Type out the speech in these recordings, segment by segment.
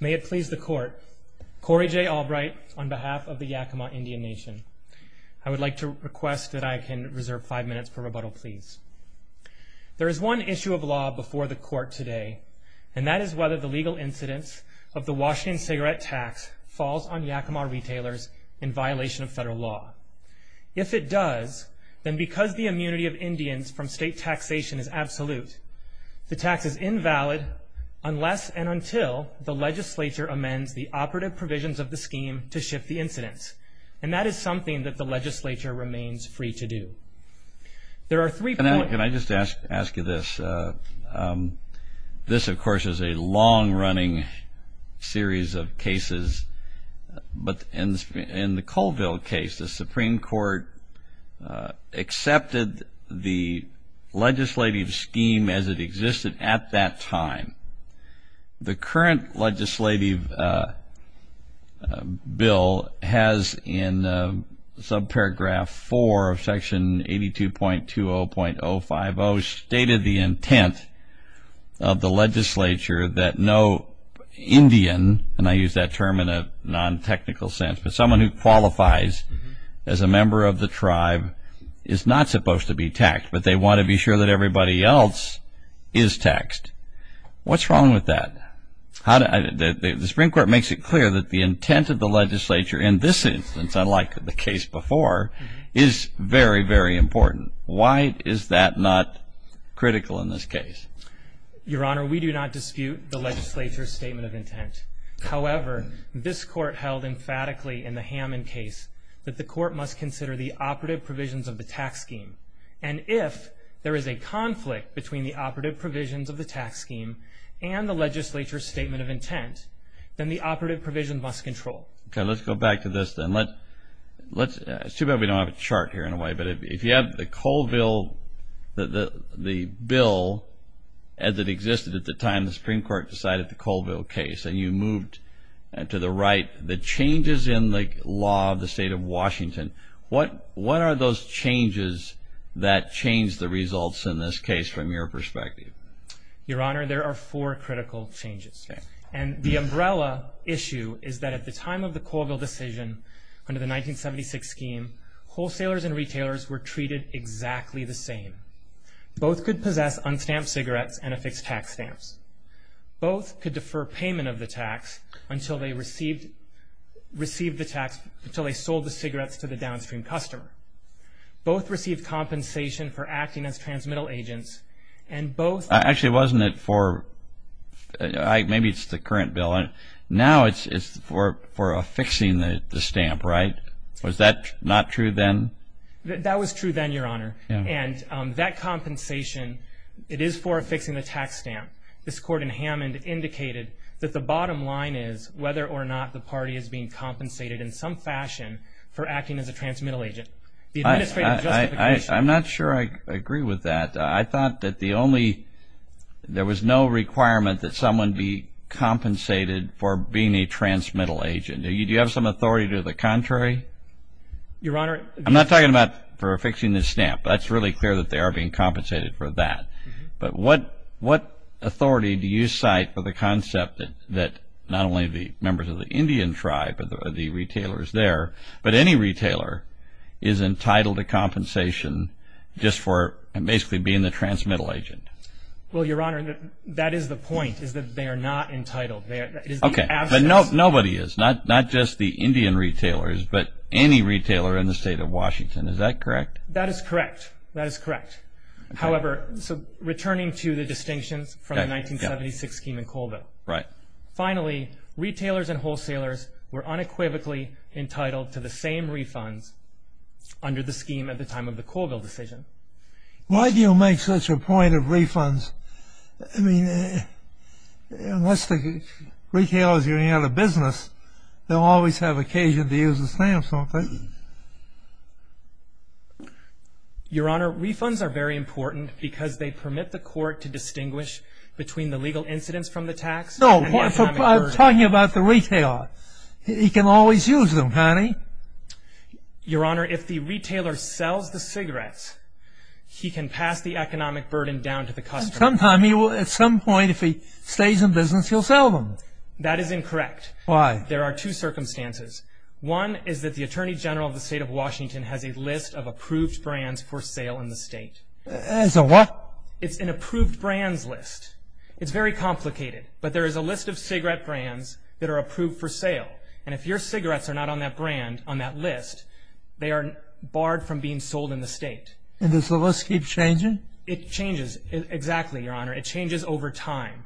May it please the Court, Corey J. Albright on behalf of the Yakima Indian Nation. I would like to request that I can reserve five minutes for rebuttal, please. There is one issue of law before the Court today, and that is whether the legal incidence of the Washington cigarette tax falls on Yakima retailers in violation of federal law. If it does, then because the immunity of Indians from state taxation is absolute, the tax is invalid unless and until the legislature amends the operative provisions of the scheme to shift the incidence. And that is something that the legislature remains free to do. Can I just ask you this? This, of course, is a long-running series of cases, but in the Colville case, the Supreme Court accepted the legislative scheme as it existed at that time. The current legislative bill has in subparagraph 4 of section 82.20.050 stated the intent of the legislature that no Indian, and I use that term in a non-technical sense, but someone who qualifies as a member of the tribe is not supposed to be taxed, but they want to be sure that everybody else is taxed. What's wrong with that? The Supreme Court makes it clear that the intent of the legislature in this instance, unlike the case before, is very, very important. Why is that not critical in this case? Your Honor, we do not dispute the legislature's statement of intent. However, this Court held emphatically in the Hammond case that the Court must consider the operative provisions of the tax scheme, and if there is a conflict between the operative provisions of the tax scheme and the legislature's statement of intent, then the operative provision must control. Okay, let's go back to this then. It's too bad we don't have a chart here in a way, but if you have the Colville, the bill as it existed at the time the Supreme Court decided the Colville case, and you moved to the right, the changes in the law of the state of Washington, what are those changes that changed the results in this case from your perspective? Your Honor, there are four critical changes. Okay. And the umbrella issue is that at the time of the Colville decision under the 1976 scheme, wholesalers and retailers were treated exactly the same. Both could possess unstamped cigarettes and affixed tax stamps. Both could defer payment of the tax until they received the tax, until they sold the cigarettes to the downstream customer. Both received compensation for acting as transmittal agents, and both... Actually, wasn't it for, maybe it's the current bill, now it's for affixing the stamp, right? Was that not true then? That was true then, Your Honor. Yeah. And that compensation, it is for affixing the tax stamp. This Court in Hammond indicated that the bottom line is whether or not the party is being compensated in some fashion for acting as a transmittal agent. The administrative justification... I'm not sure I agree with that. I thought that the only, there was no requirement that someone be compensated for being a transmittal agent. Do you have some authority to do the contrary? Your Honor... I'm not talking about for affixing the stamp. That's really clear that they are being compensated for that. But what authority do you cite for the concept that not only the members of the Indian tribe are the retailers there, but any retailer is entitled to compensation just for basically being the transmittal agent? Well, Your Honor, that is the point, is that they are not entitled. But nobody is, not just the Indian retailers, but any retailer in the state of Washington. Is that correct? That is correct. That is correct. However, so returning to the distinctions from the 1976 scheme in Colville. Right. Finally, retailers and wholesalers were unequivocally entitled to the same refunds under the scheme at the time of the Colville decision. Why do you make such a point of refunds? I mean, unless the retailer is running out of business, they'll always have occasion to use the stamp, won't they? Your Honor, refunds are very important because they permit the court to distinguish between the legal incidence from the tax... No, I'm talking about the retailer. He can always use them, can't he? Your Honor, if the retailer sells the cigarettes, he can pass the economic burden down to the customer. At some point, if he stays in business, he'll sell them. That is incorrect. Why? There are two circumstances. One is that the Attorney General of the state of Washington has a list of approved brands for sale in the state. It's a what? It's an approved brands list. It's very complicated, but there is a list of cigarette brands that are approved for sale. And if your cigarettes are not on that brand, on that list, they are barred from being sold in the state. And does the list keep changing? It changes. Exactly, Your Honor. It changes over time.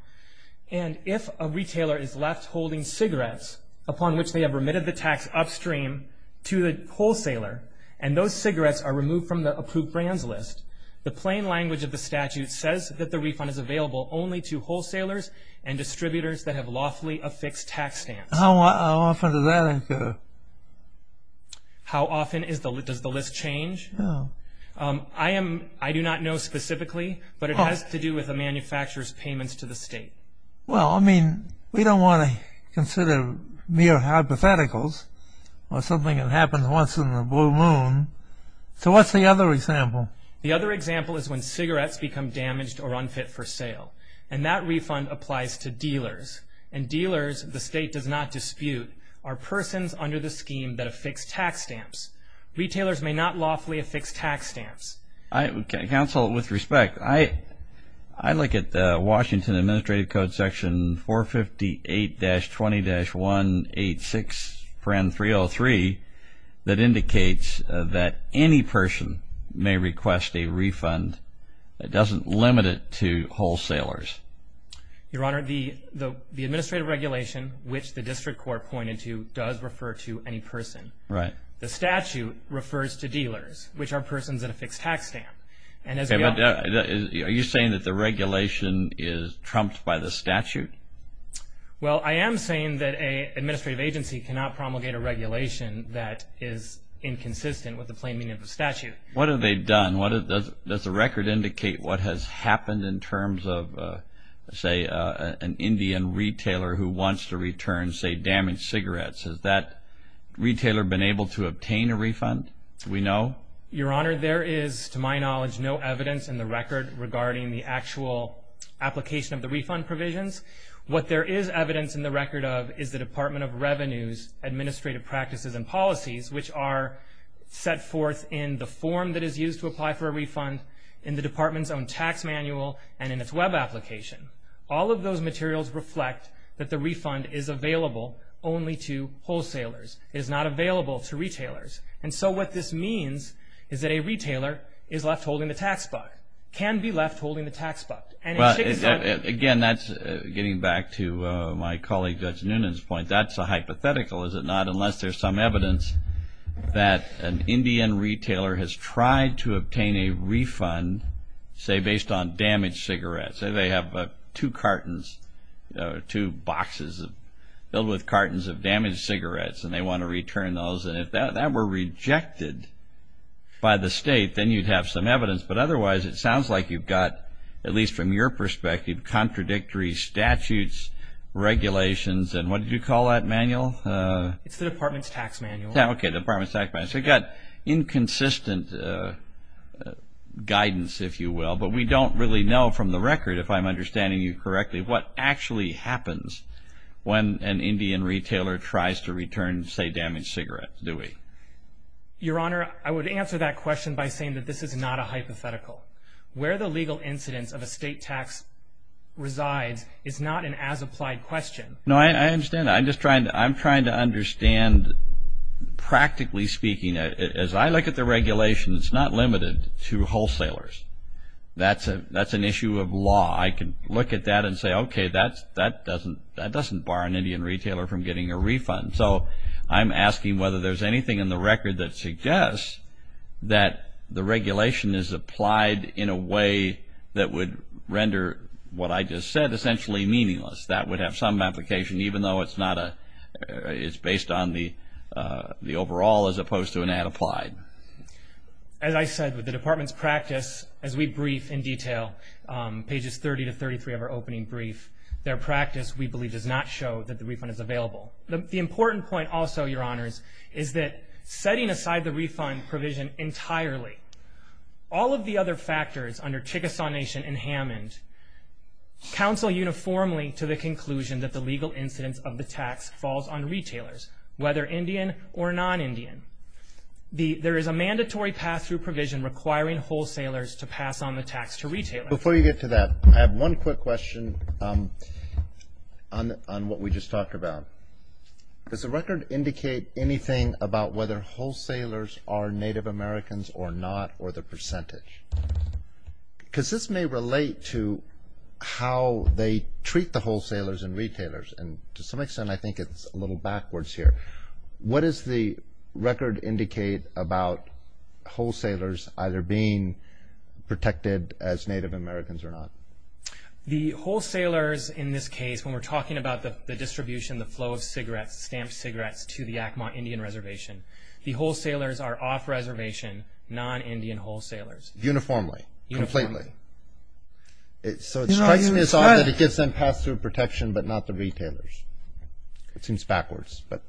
And if a retailer is left holding cigarettes, upon which they have remitted the tax upstream to the wholesaler, and those cigarettes are removed from the approved brands list, the plain language of the statute says that the refund is available only to wholesalers and distributors that have lawfully affixed tax stamps. How often does that occur? How often does the list change? No. I do not know specifically, but it has to do with a manufacturer's payments to the state. Well, I mean, we don't want to consider mere hypotheticals or something that happens once in the blue moon. So what's the other example? The other example is when cigarettes become damaged or unfit for sale, and that refund applies to dealers. And dealers, the state does not dispute, are persons under the scheme that have fixed tax stamps. Retailers may not lawfully affix tax stamps. Counsel, with respect, I look at the Washington Administrative Code, Section 458-20-186, Prenn 303, that indicates that any person may request a refund. It doesn't limit it to wholesalers. Your Honor, the administrative regulation, which the district court pointed to, does refer to any person. Right. The statute refers to dealers, which are persons in a fixed tax stamp. Are you saying that the regulation is trumped by the statute? Well, I am saying that an administrative agency cannot promulgate a regulation that is inconsistent with the plain meaning of the statute. What have they done? Does the record indicate what has happened in terms of, say, an Indian retailer who wants to return, say, damaged cigarettes? Has that retailer been able to obtain a refund? Do we know? Your Honor, there is, to my knowledge, no evidence in the record regarding the actual application of the refund provisions. What there is evidence in the record of is the Department of Revenue's administrative practices and policies, which are set forth in the form that is used to apply for a refund, in the department's own tax manual, and in its Web application. All of those materials reflect that the refund is available only to wholesalers. It is not available to retailers. And so what this means is that a retailer is left holding the tax buck, can be left holding the tax buck. Again, that's getting back to my colleague Judge Noonan's point. That's a hypothetical, is it not, unless there's some evidence that an Indian retailer has tried to obtain a refund, say, based on damaged cigarettes. Say they have two cartons, two boxes filled with cartons of damaged cigarettes, and they want to return those. And if that were rejected by the state, then you'd have some evidence. But otherwise, it sounds like you've got, at least from your perspective, contradictory statutes, regulations, and what did you call that manual? It's the department's tax manual. Okay, the department's tax manual. It's got inconsistent guidance, if you will. But we don't really know from the record, if I'm understanding you correctly, what actually happens when an Indian retailer tries to return, say, damaged cigarettes, do we? Your Honor, I would answer that question by saying that this is not a hypothetical. Where the legal incidence of a state tax resides is not an as-applied question. No, I understand. I'm just trying to understand, practically speaking. As I look at the regulations, it's not limited to wholesalers. That's an issue of law. I can look at that and say, okay, that doesn't bar an Indian retailer from getting a refund. So I'm asking whether there's anything in the record that suggests that the regulation is applied in a way that would render what I just said essentially meaningless. That would have some application, even though it's based on the overall as opposed to an as-applied. As I said, with the department's practice, as we brief in detail, pages 30 to 33 of our opening brief, their practice, we believe, does not show that the refund is available. The important point also, Your Honors, is that setting aside the refund provision entirely, all of the other factors under Chickasaw Nation and Hammond, counsel uniformly to the conclusion that the legal incidence of the tax falls on retailers, whether Indian or non-Indian. There is a mandatory pass-through provision requiring wholesalers to pass on the tax to retailers. Before you get to that, I have one quick question on what we just talked about. Does the record indicate anything about whether wholesalers are Native Americans or not, or the percentage? Because this may relate to how they treat the wholesalers and retailers, and to some extent I think it's a little backwards here. What does the record indicate about wholesalers either being protected as Native Americans or not? The wholesalers in this case, when we're talking about the distribution, the flow of cigarettes, stamped cigarettes to the Yakima Indian Reservation, the wholesalers are off-reservation, non-Indian wholesalers. Uniformly? Uniformly. Completely. So it strikes me as odd that it gives them pass-through protection but not the retailers. It seems backwards, but.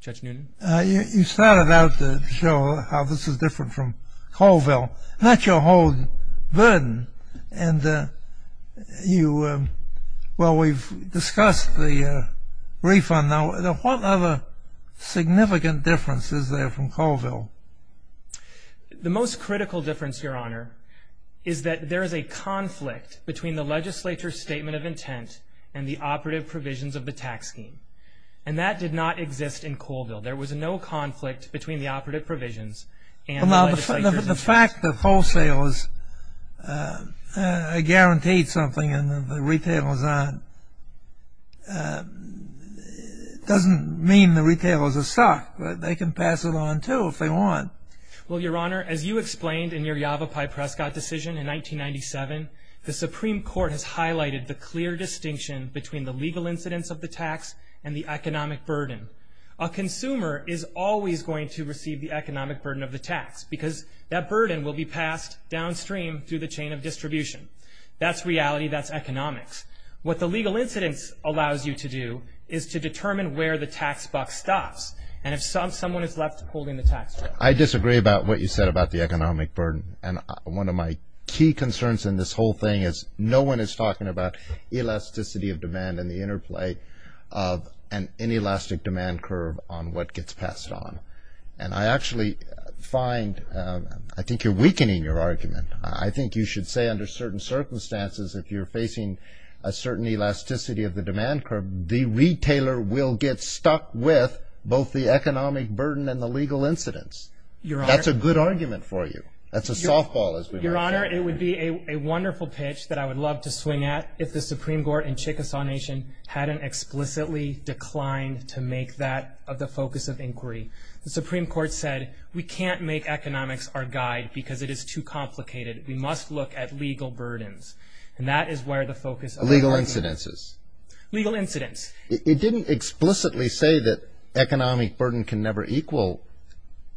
Judge Noonan. You started out to show how this is different from Colville. Not your whole burden, and you, well, we've discussed the refund. Now, what other significant difference is there from Colville? The most critical difference, Your Honor, is that there is a conflict between the legislature's statement of intent and the operative provisions of the tax scheme, and that did not exist in Colville. There was no conflict between the operative provisions and the legislature's intent. But the fact that wholesalers are guaranteed something and the retailers aren't doesn't mean the retailers are stuck. They can pass it on, too, if they want. Well, Your Honor, as you explained in your Yavapai-Prescott decision in 1997, the Supreme Court has highlighted the clear distinction between the legal incidence of the tax and the economic burden. A consumer is always going to receive the economic burden of the tax because that burden will be passed downstream through the chain of distribution. That's reality. That's economics. What the legal incidence allows you to do is to determine where the tax buck stops, and if someone is left holding the tax buck. I disagree about what you said about the economic burden, and one of my key concerns in this whole thing is no one is talking about elasticity of demand and the interplay of an inelastic demand curve on what gets passed on. And I actually find I think you're weakening your argument. I think you should say under certain circumstances, if you're facing a certain elasticity of the demand curve, the retailer will get stuck with both the economic burden and the legal incidence. That's a good argument for you. That's a softball, as we might say. Your Honor, it would be a wonderful pitch that I would love to swing at if the Supreme Court in Chickasaw Nation hadn't explicitly declined to make that the focus of inquiry. The Supreme Court said we can't make economics our guide because it is too complicated. We must look at legal burdens, and that is where the focus of our argument is. Legal incidences. Legal incidence. It didn't explicitly say that economic burden can never equal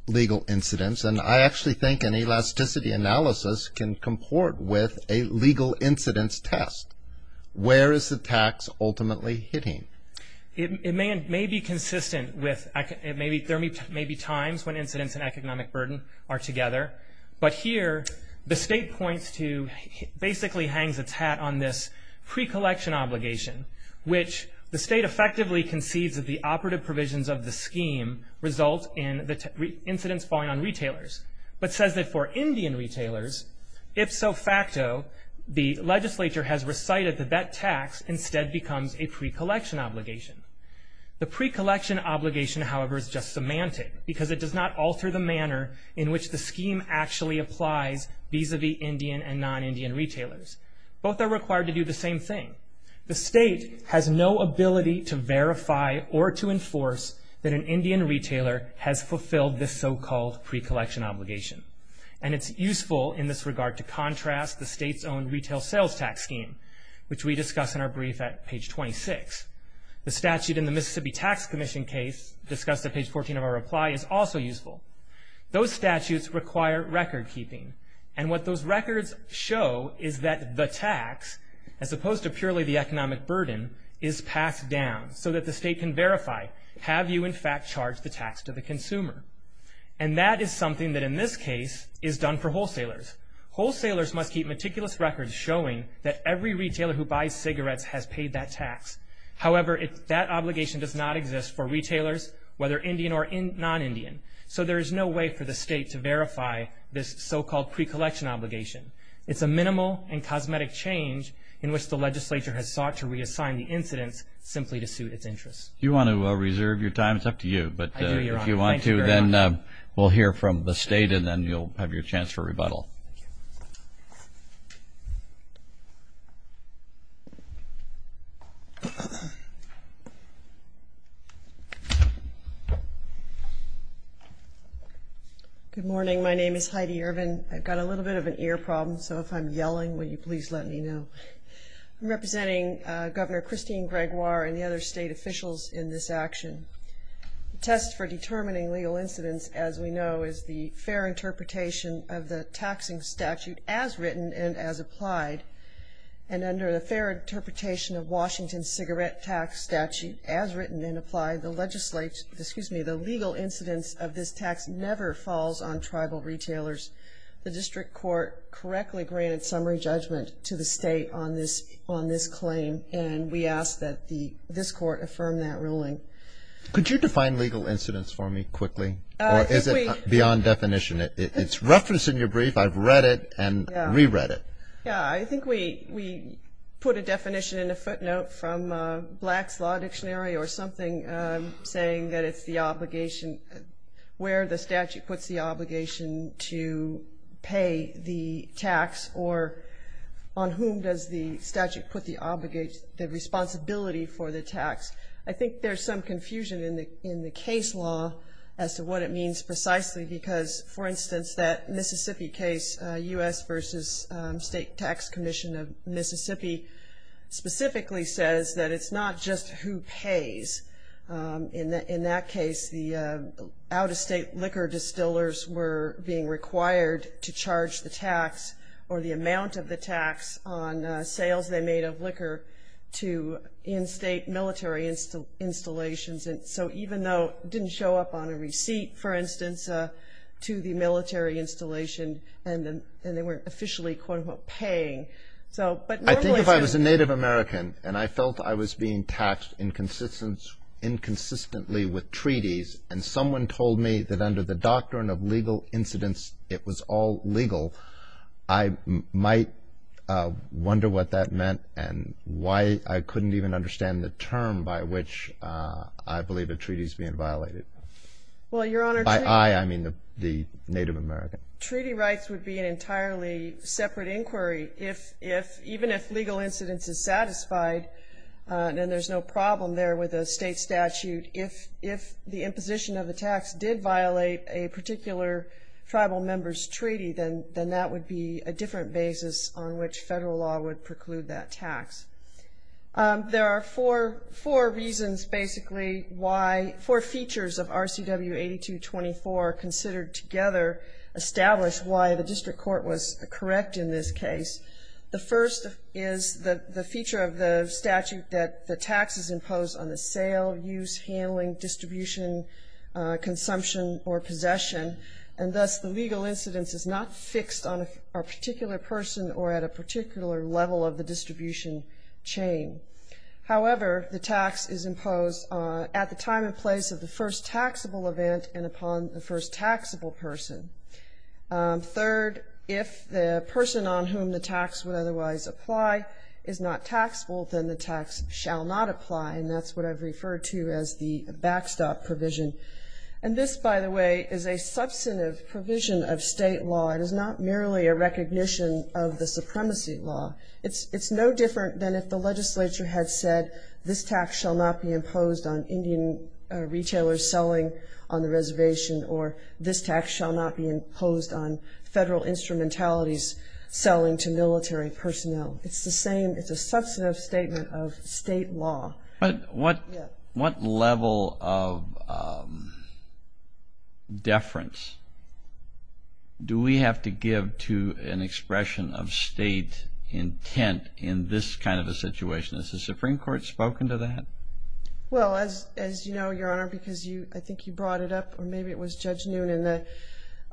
legal incidence, and I actually think an elasticity analysis can comport with a legal incidence test. Where is the tax ultimately hitting? It may be consistent with there may be times when incidence and economic burden are together, but here the State basically hangs its hat on this pre-collection obligation, which the State effectively concedes that the operative provisions of the scheme result in the incidence falling on retailers, but says that for Indian retailers, if so facto, the legislature has recited that that tax instead becomes a pre-collection obligation. The pre-collection obligation, however, is just semantic because it does not alter the manner in which the scheme actually applies vis-a-vis Indian and non-Indian retailers. Both are required to do the same thing. The State has no ability to verify or to enforce that an Indian retailer has fulfilled this so-called pre-collection obligation, and it's useful in this regard to contrast the State's own retail sales tax scheme, which we discuss in our brief at page 26. The statute in the Mississippi Tax Commission case, discussed at page 14 of our reply, is also useful. Those statutes require record keeping, and what those records show is that the tax, as opposed to purely the economic burden, is passed down so that the State can verify, have you in fact charged the tax to the consumer? And that is something that in this case is done for wholesalers. Wholesalers must keep meticulous records showing that every retailer who buys cigarettes has paid that tax. However, that obligation does not exist for retailers, whether Indian or non-Indian, so there is no way for the State to verify this so-called pre-collection obligation. It's a minimal and cosmetic change in which the legislature has sought to reassign the incidents simply to suit its interests. Do you want to reserve your time? It's up to you, but if you want to, then we'll hear from the State, and then you'll have your chance for rebuttal. Good morning. My name is Heidi Irvin. I've got a little bit of an ear problem, so if I'm yelling, will you please let me know? I'm representing Governor Christine Gregoire and the other State officials in this action. The test for determining legal incidents, as we know, is the fair interpretation of the taxing statute as written and as applied, and under the fair interpretation of Washington's cigarette tax statute as written and applied, the legal incidents of this tax never falls on tribal retailers. The district court correctly granted summary judgment to the State on this claim, and we ask that this court affirm that ruling. Could you define legal incidents for me quickly, or is it beyond definition? It's referenced in your brief. I've read it and reread it. Yeah, I think we put a definition in a footnote from Black's Law Dictionary or something saying that it's the obligation, where the statute puts the obligation to pay the tax, or on whom does the statute put the responsibility for the tax. I think there's some confusion in the case law as to what it means precisely, because, for instance, that Mississippi case, U.S. v. State Tax Commission of Mississippi, specifically says that it's not just who pays. In that case, the out-of-state liquor distillers were being required to charge the tax or the amount of the tax on sales they made of liquor to in-state military installations. So even though it didn't show up on a receipt, for instance, to the military installation, and they weren't officially, quote, unquote, paying. I think if I was a Native American and I felt I was being taxed inconsistently with treaties and someone told me that under the doctrine of legal incidents it was all legal, I might wonder what that meant and why I couldn't even understand the term by which I believe a treaty is being violated. By I, I mean the Native American. Treaty rights would be an entirely separate inquiry if, even if legal incidents is satisfied and there's no problem there with a state statute, if the imposition of the tax did violate a particular tribal member's treaty, then that would be a different basis on which federal law would preclude that tax. There are four reasons, basically, why four features of RCW 8224 considered together establish why the district court was correct in this case. The first is the feature of the statute that the tax is imposed on the sale, use, handling, distribution, consumption, or possession, and thus the legal incidence is not fixed on a particular person or at a particular level of the distribution chain. However, the tax is imposed at the time and place of the first taxable event and upon the first taxable person. Third, if the person on whom the tax would otherwise apply is not taxable, then the tax shall not apply, and that's what I've referred to as the backstop provision. And this, by the way, is a substantive provision of state law. It is not merely a recognition of the supremacy law. It's no different than if the legislature had said this tax shall not be imposed on Indian retailers selling on the reservation or this tax shall not be imposed on federal instrumentalities selling to military personnel. It's the same. It's a substantive statement of state law. But what level of deference do we have to give to an expression of state intent in this kind of a situation? Has the Supreme Court spoken to that? Well, as you know, Your Honor, because I think you brought it up, or maybe it was Judge Noonan,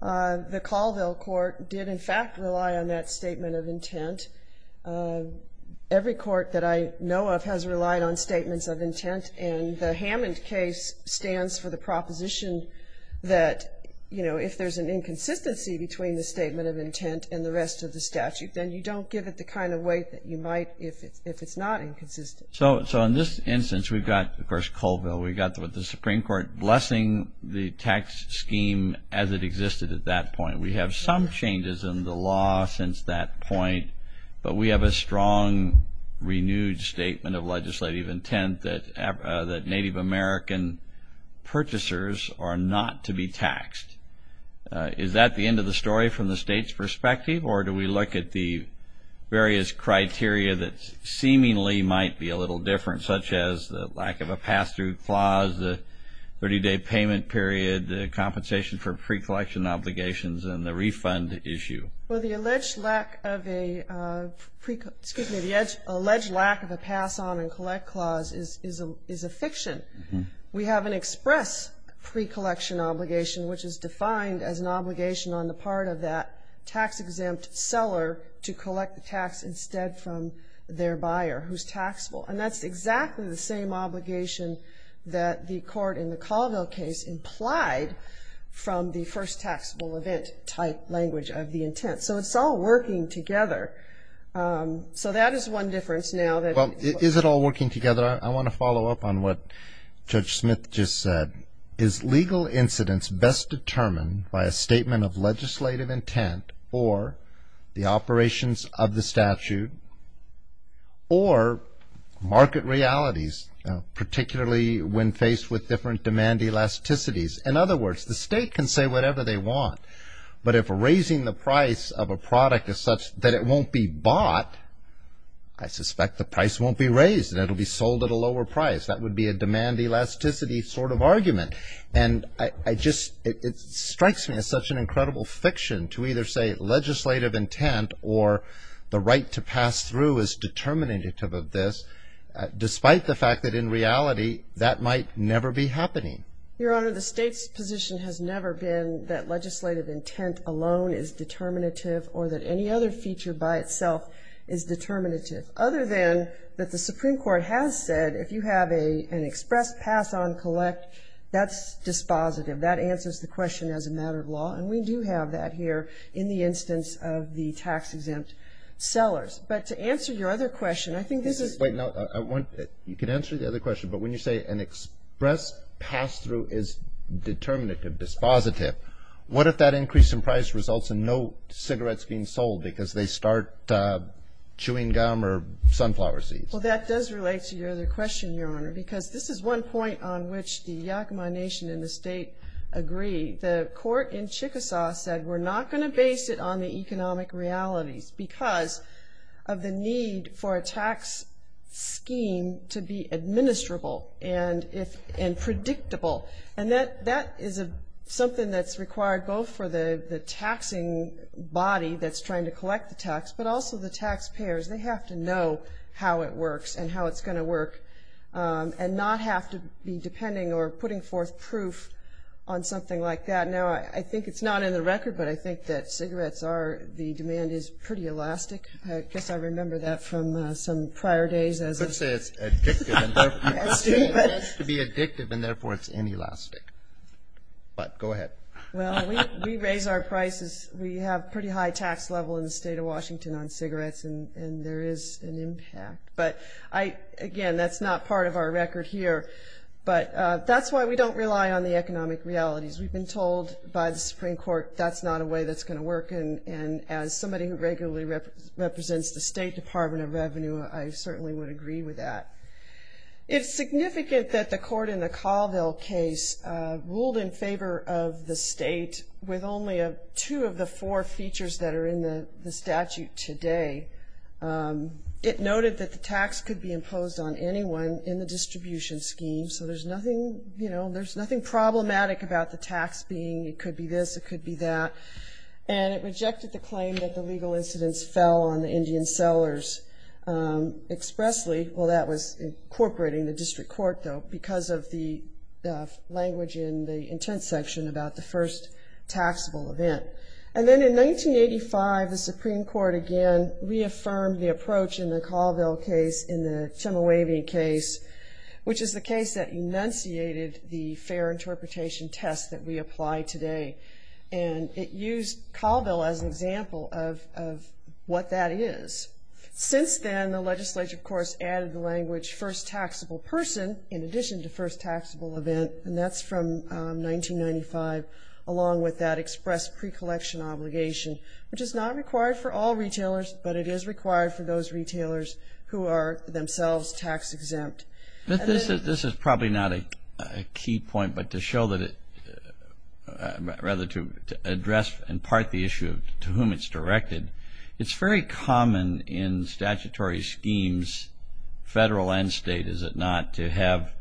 the Colville Court did, in fact, rely on that statement of intent. Every court that I know of has relied on statements of intent, and the Hammond case stands for the proposition that, you know, if there's an inconsistency between the statement of intent and the rest of the statute, then you don't give it the kind of weight that you might if it's not inconsistent. So in this instance, we've got, of course, Colville. We've got the Supreme Court blessing the tax scheme as it existed at that point. We have some changes in the law since that point, but we have a strong, renewed statement of legislative intent that Native American purchasers are not to be taxed. Or do we look at the various criteria that seemingly might be a little different, such as the lack of a pass-through clause, the 30-day payment period, the compensation for pre-collection obligations, and the refund issue? Well, the alleged lack of a pre-collection ‑‑ excuse me, the alleged lack of a pass-on and collect clause is a fiction. We have an express pre-collection obligation, which is defined as an obligation on the part of that tax-exempt seller to collect the tax instead from their buyer who's taxable. And that's exactly the same obligation that the court in the Colville case implied from the first taxable event type language of the intent. So it's all working together. So that is one difference now. Is it all working together? I want to follow up on what Judge Smith just said. Is legal incidence best determined by a statement of legislative intent or the operations of the statute or market realities, particularly when faced with different demand elasticities? In other words, the state can say whatever they want, but if raising the price of a product is such that it won't be bought, I suspect the price won't be raised and it will be sold at a lower price. That would be a demand elasticity sort of argument. And it strikes me as such an incredible fiction to either say legislative intent or the right to pass through is determinative of this, despite the fact that in reality that might never be happening. Your Honor, the state's position has never been that legislative intent alone is determinative or that any other feature by itself is determinative, other than that the Supreme Court has said if you have an express pass-on collect, that's dispositive. That answers the question as a matter of law, and we do have that here in the instance of the tax-exempt sellers. But to answer your other question, I think this is – Wait. You can answer the other question, but when you say an express pass-through is determinative, dispositive, what if that increase in price results in no cigarettes being sold because they start chewing gum or sunflower seeds? Well, that does relate to your other question, Your Honor, because this is one point on which the Yakama Nation and the state agree. The court in Chickasaw said we're not going to base it on the economic realities because of the need for a tax scheme to be administrable and predictable. And that is something that's required both for the taxing body that's trying to collect the tax, but also the taxpayers. They have to know how it works and how it's going to work and not have to be depending or putting forth proof on something like that. Now, I think it's not in the record, but I think that cigarettes are – the demand is pretty elastic. I guess I remember that from some prior days. Let's say it's addictive and therefore it's inelastic. But go ahead. Well, we raise our prices. We have a pretty high tax level in the state of Washington on cigarettes, and there is an impact. But, again, that's not part of our record here. But that's why we don't rely on the economic realities. We've been told by the Supreme Court that's not a way that's going to work. And as somebody who regularly represents the State Department of Revenue, I certainly would agree with that. It's significant that the court in the Colville case ruled in favor of the state with only two of the four features that are in the statute today. It noted that the tax could be imposed on anyone in the distribution scheme, so there's nothing problematic about the tax being it could be this, it could be that. And it rejected the claim that the legal incidents fell on the Indian sellers expressly. Well, that was incorporating the district court, though, because of the language in the intent section about the first taxable event. And then in 1985, the Supreme Court again reaffirmed the approach in the Colville case, in the Timowavy case, which is the case that enunciated the fair interpretation test that we apply today. And it used Colville as an example of what that is. Since then, the legislature, of course, added the language, first taxable person in addition to first taxable event, and that's from 1995, along with that express pre-collection obligation, which is not required for all retailers, but it is required for those retailers who are themselves tax-exempt. This is probably not a key point, but to show that it – rather to address in part the issue to whom it's directed, it's very common in statutory schemes, federal and state, is it not, to have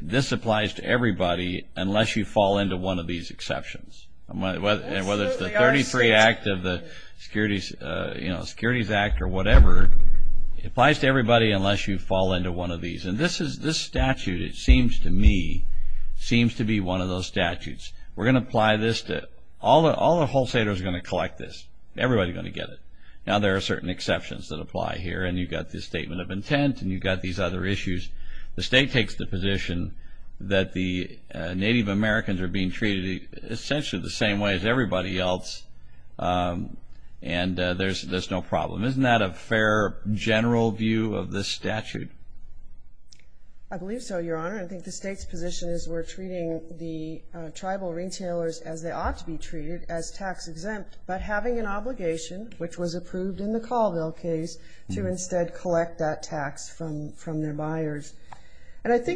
this applies to everybody unless you fall into one of these exceptions. Whether it's the 33 Act of the Securities Act or whatever, it applies to everybody unless you fall into one of these. And this statute, it seems to me, seems to be one of those statutes. We're going to apply this to – all the wholesalers are going to collect this. Everybody's going to get it. Now, there are certain exceptions that apply here, and you've got this statement of intent, and you've got these other issues. The state takes the position that the Native Americans are being treated essentially the same way as everybody else, and there's no problem. Isn't that a fair, general view of this statute? I believe so, Your Honor. I think the state's position is we're treating the tribal retailers as they ought to be treated as tax-exempt, but having an obligation, which was approved in the Colville case, to instead collect that tax from their buyers. Let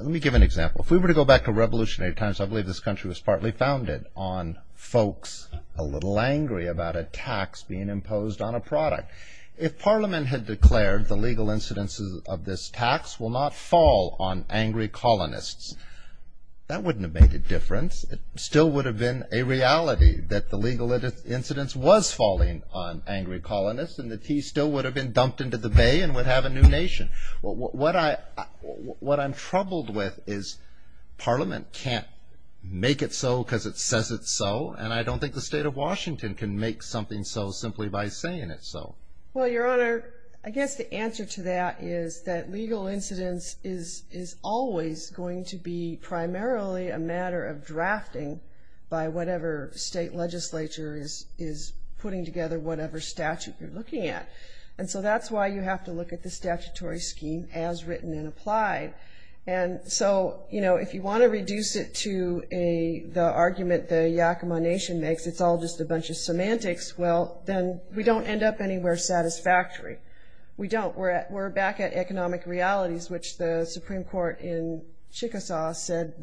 me give an example. If we were to go back to Revolutionary Times, I believe this country was partly founded on folks a little angry about a tax being imposed on a product. If Parliament had declared the legal incidences of this tax will not fall on angry colonists, that wouldn't have made a difference. It still would have been a reality that the legal incidence was falling on angry colonists, and that he still would have been dumped into the bay and would have a new nation. What I'm troubled with is Parliament can't make it so because it says it's so, and I don't think the state of Washington can make something so simply by saying it's so. Well, Your Honor, I guess the answer to that is that legal incidence is always going to be primarily a matter of drafting by whatever state legislature is putting together whatever statute you're looking at. And so that's why you have to look at the statutory scheme as written and applied. And so, you know, if you want to reduce it to the argument the Yakama Nation makes, it's all just a bunch of semantics, well, then we don't end up anywhere satisfactory. We don't. We're back at economic realities, which the Supreme Court in Chickasaw said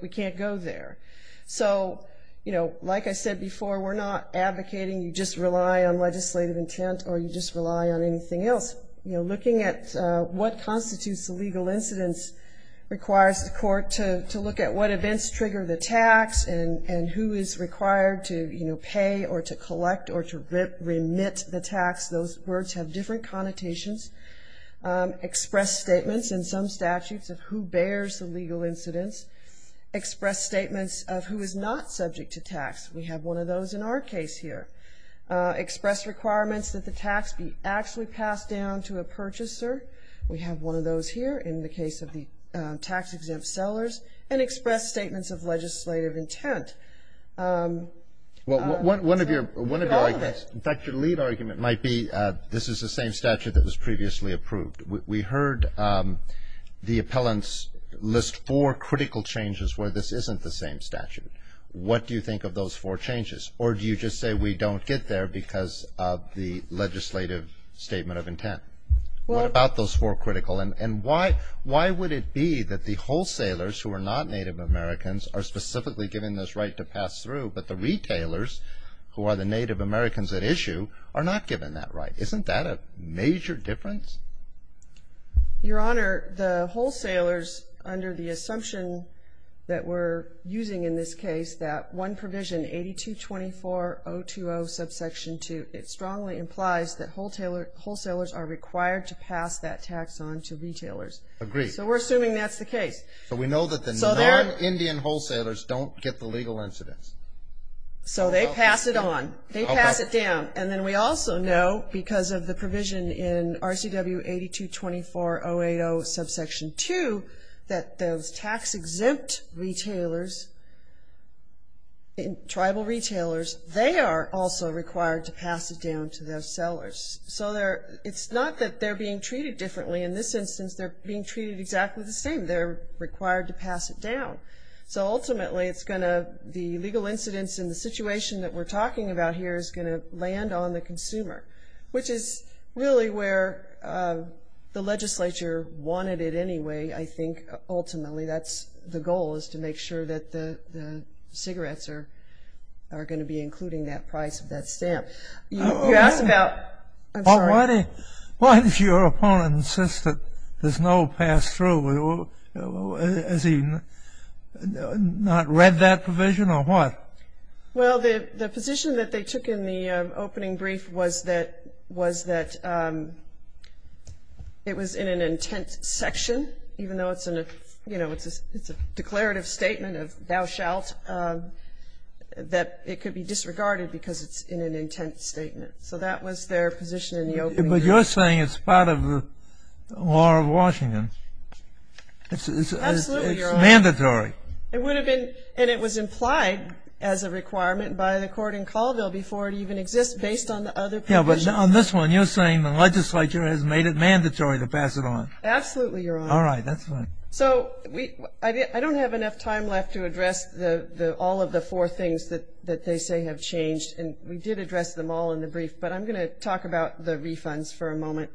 we can't go there. So, you know, like I said before, we're not advocating you just rely on legislative intent or you just rely on anything else. Looking at what constitutes a legal incidence requires the court to look at what events trigger the tax and who is required to, you know, pay or to collect or to remit the tax. Those words have different connotations. Express statements in some statutes of who bears the legal incidence. Express statements of who is not subject to tax. We have one of those in our case here. Express requirements that the tax be actually passed down to a purchaser. We have one of those here in the case of the tax-exempt sellers. And express statements of legislative intent. Well, one of your, in fact, your lead argument might be this is the same statute that was previously approved. We heard the appellants list four critical changes where this isn't the same statute. What do you think of those four changes? Or do you just say we don't get there because of the legislative statement of intent? What about those four critical? And why would it be that the wholesalers who are not Native Americans are specifically given this right to pass through, but the retailers who are the Native Americans at issue are not given that right? Isn't that a major difference? Your Honor, the wholesalers under the assumption that we're using in this case, that one provision, 8224.020, subsection 2, it strongly implies that wholesalers are required to pass that tax on to retailers. Agreed. So we're assuming that's the case. So we know that the non-Indian wholesalers don't get the legal incidents. So they pass it on. They pass it down. And then we also know, because of the provision in RCW 8224.080, subsection 2, that those tax-exempt retailers, tribal retailers, they are also required to pass it down to those sellers. So it's not that they're being treated differently. In this instance, they're being treated exactly the same. They're required to pass it down. So ultimately, it's going to be legal incidents in the situation that we're talking about here is going to land on the consumer, which is really where the legislature wanted it anyway, I think, ultimately. That's the goal is to make sure that the cigarettes are going to be including that price of that stamp. Why did your opponent insist that there's no pass-through? Has he not read that provision or what? Well, the position that they took in the opening brief was that it was in an intent section, even though it's a declarative statement of thou shalt, that it could be disregarded because it's in an intent statement. So that was their position in the opening. But you're saying it's part of the law of Washington. Absolutely, Your Honor. It's mandatory. It would have been, and it was implied as a requirement by the court in Colville before it even exists, based on the other provisions. Yeah, but on this one, you're saying the legislature has made it mandatory to pass it on. Absolutely, Your Honor. All right, that's fine. So I don't have enough time left to address all of the four things that they say have changed, and we did address them all in the brief, but I'm going to talk about the refunds for a moment.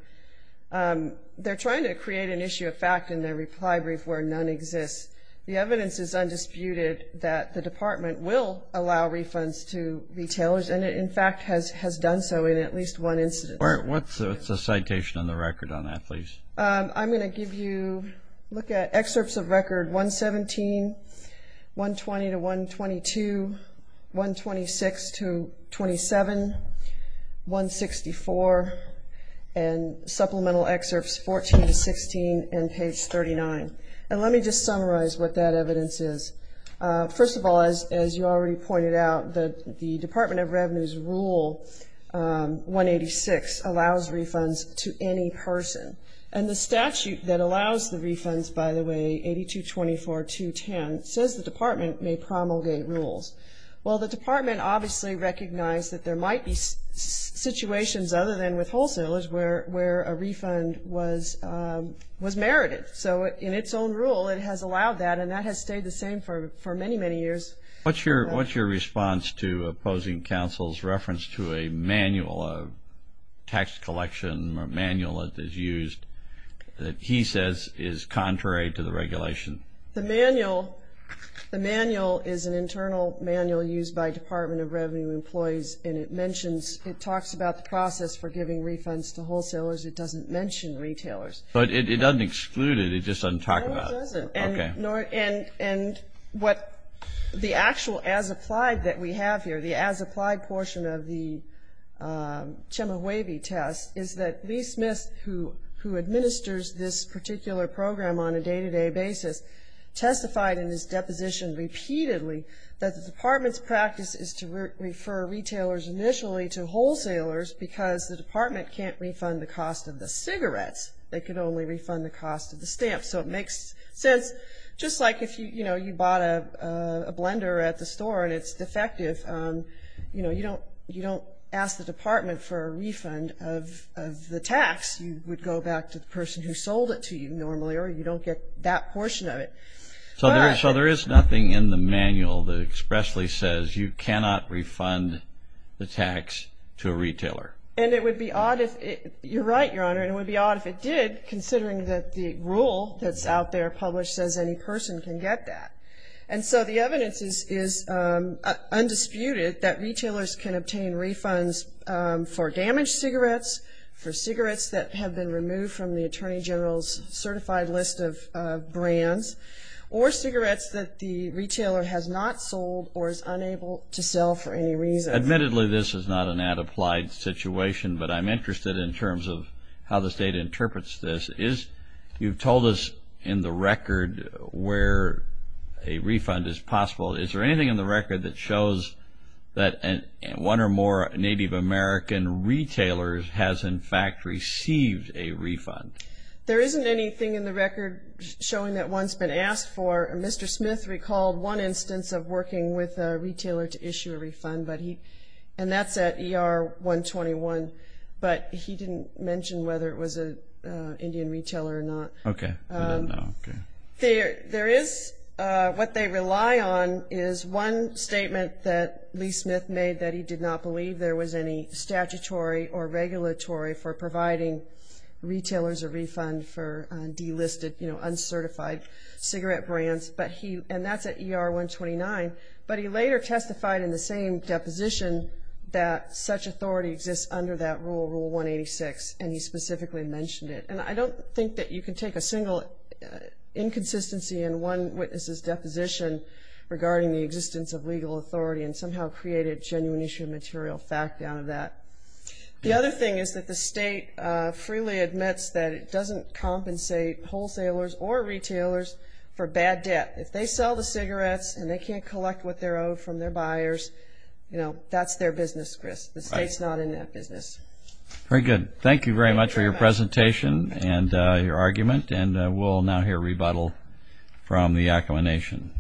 They're trying to create an issue of fact in their reply brief where none exists. The evidence is undisputed that the Department will allow refunds to retailers, and it in fact has done so in at least one incident. What's the citation on the record on that, please? I'm going to give you excerpts of record 117, 120 to 122, 126 to 27, 164, and supplemental excerpts 14 to 16 and page 39. And let me just summarize what that evidence is. First of all, as you already pointed out, the Department of Revenue's Rule 186 allows refunds to any person. And the statute that allows the refunds, by the way, 82-24-210, says the Department may promulgate rules. Well, the Department obviously recognized that there might be situations other than with wholesalers where a refund was merited. So in its own rule, it has allowed that, and that has stayed the same for many, many years. What's your response to opposing counsel's reference to a manual, a tax collection manual that is used that he says is contrary to the regulation? The manual is an internal manual used by Department of Revenue employees, and it mentions it talks about the process for giving refunds to wholesalers. It doesn't mention retailers. But it doesn't exclude it. It just doesn't talk about it. No, it doesn't. And what the actual as-applied that we have here, the as-applied portion of the Chemehuevi test is that Lee Smith, who administers this particular program on a day-to-day basis, testified in his deposition repeatedly that the Department's practice is to refer retailers initially to wholesalers because the Department can't refund the cost of the cigarettes. They can only refund the cost of the stamps. So it makes sense. Just like if you bought a blender at the store and it's defective, you don't ask the Department for a refund of the tax. You would go back to the person who sold it to you normally, or you don't get that portion of it. So there is nothing in the manual that expressly says you cannot refund the tax to a retailer. And it would be odd if it did, considering that the rule that's out there published says any person can get that. And so the evidence is undisputed that retailers can obtain refunds for damaged cigarettes, for cigarettes that have been removed from the Attorney General's certified list of brands, or cigarettes that the retailer has not sold or is unable to sell for any reason. Admittedly, this is not an ad applied situation, but I'm interested in terms of how the State interprets this. You've told us in the record where a refund is possible. Is there anything in the record that shows that one or more Native American retailers has, in fact, received a refund? There isn't anything in the record showing that one's been asked for. Mr. Smith recalled one instance of working with a retailer to issue a refund, and that's at ER 121. But he didn't mention whether it was an Indian retailer or not. Okay, I didn't know. What they rely on is one statement that Lee Smith made, that he did not believe there was any statutory or regulatory for providing retailers a refund for delisted, you know, uncertified cigarette brands, and that's at ER 129. But he later testified in the same deposition that such authority exists under that rule, Rule 186, and he specifically mentioned it. And I don't think that you can take a single inconsistency in one witness's deposition regarding the existence of legal authority and somehow create a genuine issue of material fact out of that. The other thing is that the state freely admits that it doesn't compensate wholesalers or retailers for bad debt. If they sell the cigarettes and they can't collect what they're owed from their buyers, you know, that's their business, Chris. The state's not in that business. Very good. Thank you very much for your presentation and your argument, and we'll now hear rebuttal from the Yakama Nation.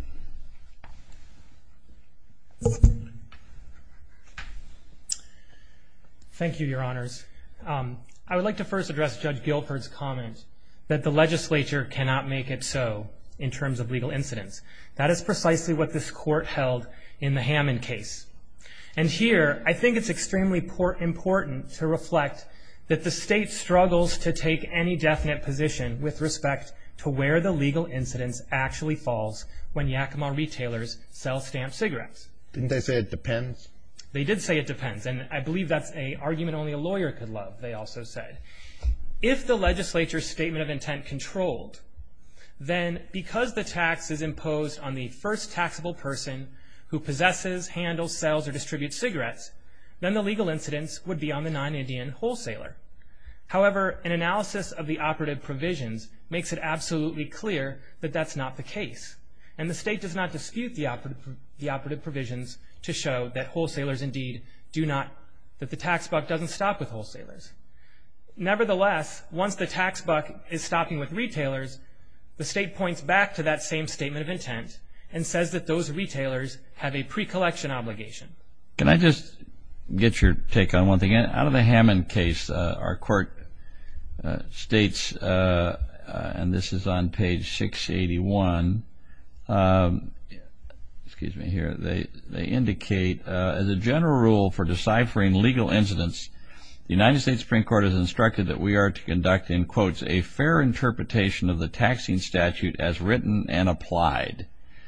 Thank you, Your Honors. I would like to first address Judge Gilford's comment that the legislature cannot make it so in terms of legal incidence. That is precisely what this court held in the Hammond case. And here I think it's extremely important to reflect that the state struggles to take any definite position with respect to where the legal incidence actually falls when Yakama retailers sell stamped cigarettes. Didn't they say it depends? They did say it depends, and I believe that's an argument only a lawyer could love, they also said. If the legislature's statement of intent controlled, then because the tax is imposed on the first taxable person who possesses, handles, sells, or distributes cigarettes, then the legal incidence would be on the non-Indian wholesaler. However, an analysis of the operative provisions makes it absolutely clear that that's not the case, and the state does not dispute the operative provisions to show that the tax buck doesn't stop with wholesalers. Nevertheless, once the tax buck is stopping with retailers, the state points back to that same statement of intent and says that those retailers have a pre-collection obligation. Can I just get your take on one thing? Out of the Hammond case, our court states, and this is on page 681, they indicate, as a general rule for deciphering legal incidence, the United States Supreme Court has instructed that we are to conduct in quotes, a fair interpretation of the taxing statute as written and applied,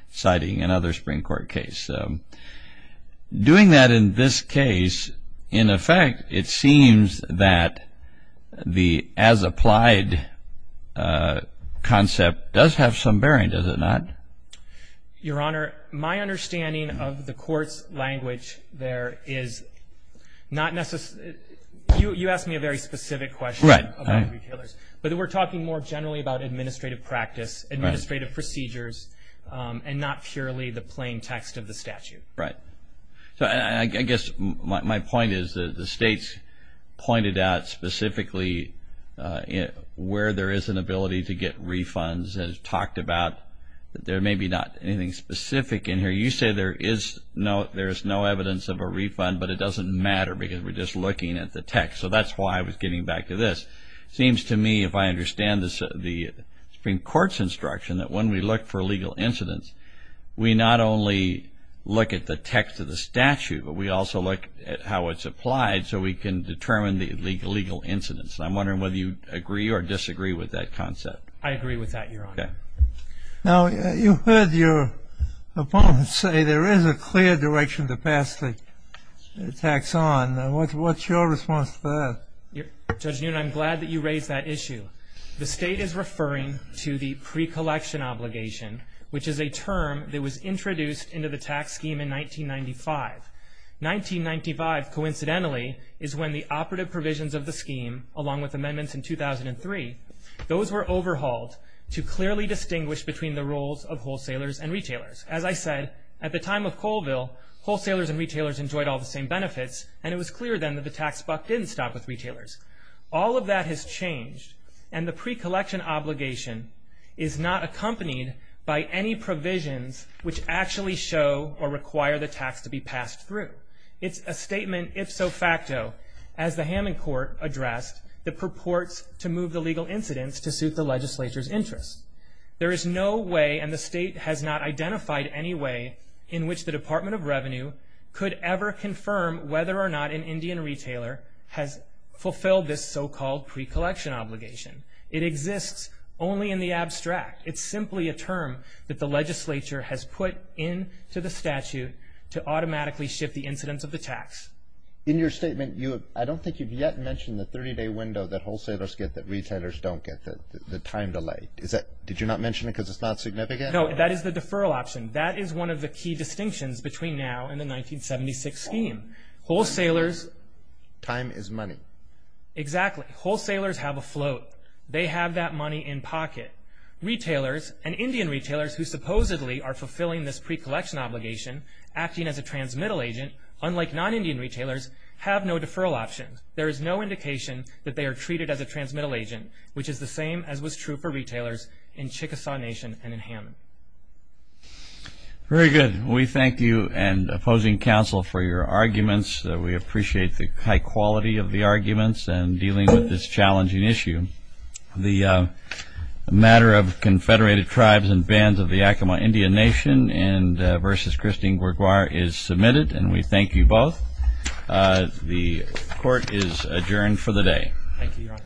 citing another Supreme Court case. Doing that in this case, in effect, it seems that the as-applied concept does have some bearing, does it not? Your Honor, my understanding of the court's language there is not necessarily – you asked me a very specific question. Right. About retailers, but we're talking more generally about administrative practice, administrative procedures, and not purely the plain text of the statute. Right. I guess my point is that the states pointed out specifically where there is an ability to get refunds and talked about that there may be not anything specific in here. You say there is no evidence of a refund, but it doesn't matter because we're just looking at the text. So that's why I was getting back to this. It seems to me, if I understand the Supreme Court's instruction, that when we look for legal incidence, we not only look at the text of the statute, but we also look at how it's applied so we can determine the legal incidence. And I'm wondering whether you agree or disagree with that concept. I agree with that, Your Honor. Okay. Now, you heard your opponent say there is a clear direction to pass the tax on. What's your response to that? Judge Newton, I'm glad that you raised that issue. The state is referring to the pre-collection obligation, which is a term that was introduced into the tax scheme in 1995. 1995, coincidentally, is when the operative provisions of the scheme, along with amendments in 2003, those were overhauled to clearly distinguish between the roles of wholesalers and retailers. As I said, at the time of Colville, wholesalers and retailers enjoyed all the same benefits, and it was clear then that the tax buck didn't stop with retailers. All of that has changed, and the pre-collection obligation is not accompanied by any provisions which actually show or require the tax to be passed through. It's a statement, ifso facto, as the Hammond Court addressed, that purports to move the legal incidence to suit the legislature's interests. There is no way, and the state has not identified any way, in which the Department of Revenue could ever confirm whether or not an Indian retailer has fulfilled this so-called pre-collection obligation. It exists only in the abstract. It's simply a term that the legislature has put into the statute to automatically shift the incidence of the tax. In your statement, I don't think you've yet mentioned the 30-day window that wholesalers get that retailers don't get, the time delay. Did you not mention it because it's not significant? No, that is the deferral option. That is one of the key distinctions between now and the 1976 scheme. Time is money. Exactly. Wholesalers have a float. They have that money in pocket. Retailers and Indian retailers who supposedly are fulfilling this pre-collection obligation, acting as a transmittal agent, unlike non-Indian retailers, have no deferral option. There is no indication that they are treated as a transmittal agent, which is the same as was true for retailers in Chickasaw Nation and in Hammond. Very good. We thank you and opposing counsel for your arguments. We appreciate the high quality of the arguments and dealing with this challenging issue. The matter of Confederated Tribes and Bands of the Yakima Indian Nation and versus Christine Gourgeois is submitted, and we thank you both. The court is adjourned for the day. Thank you, Your Honor.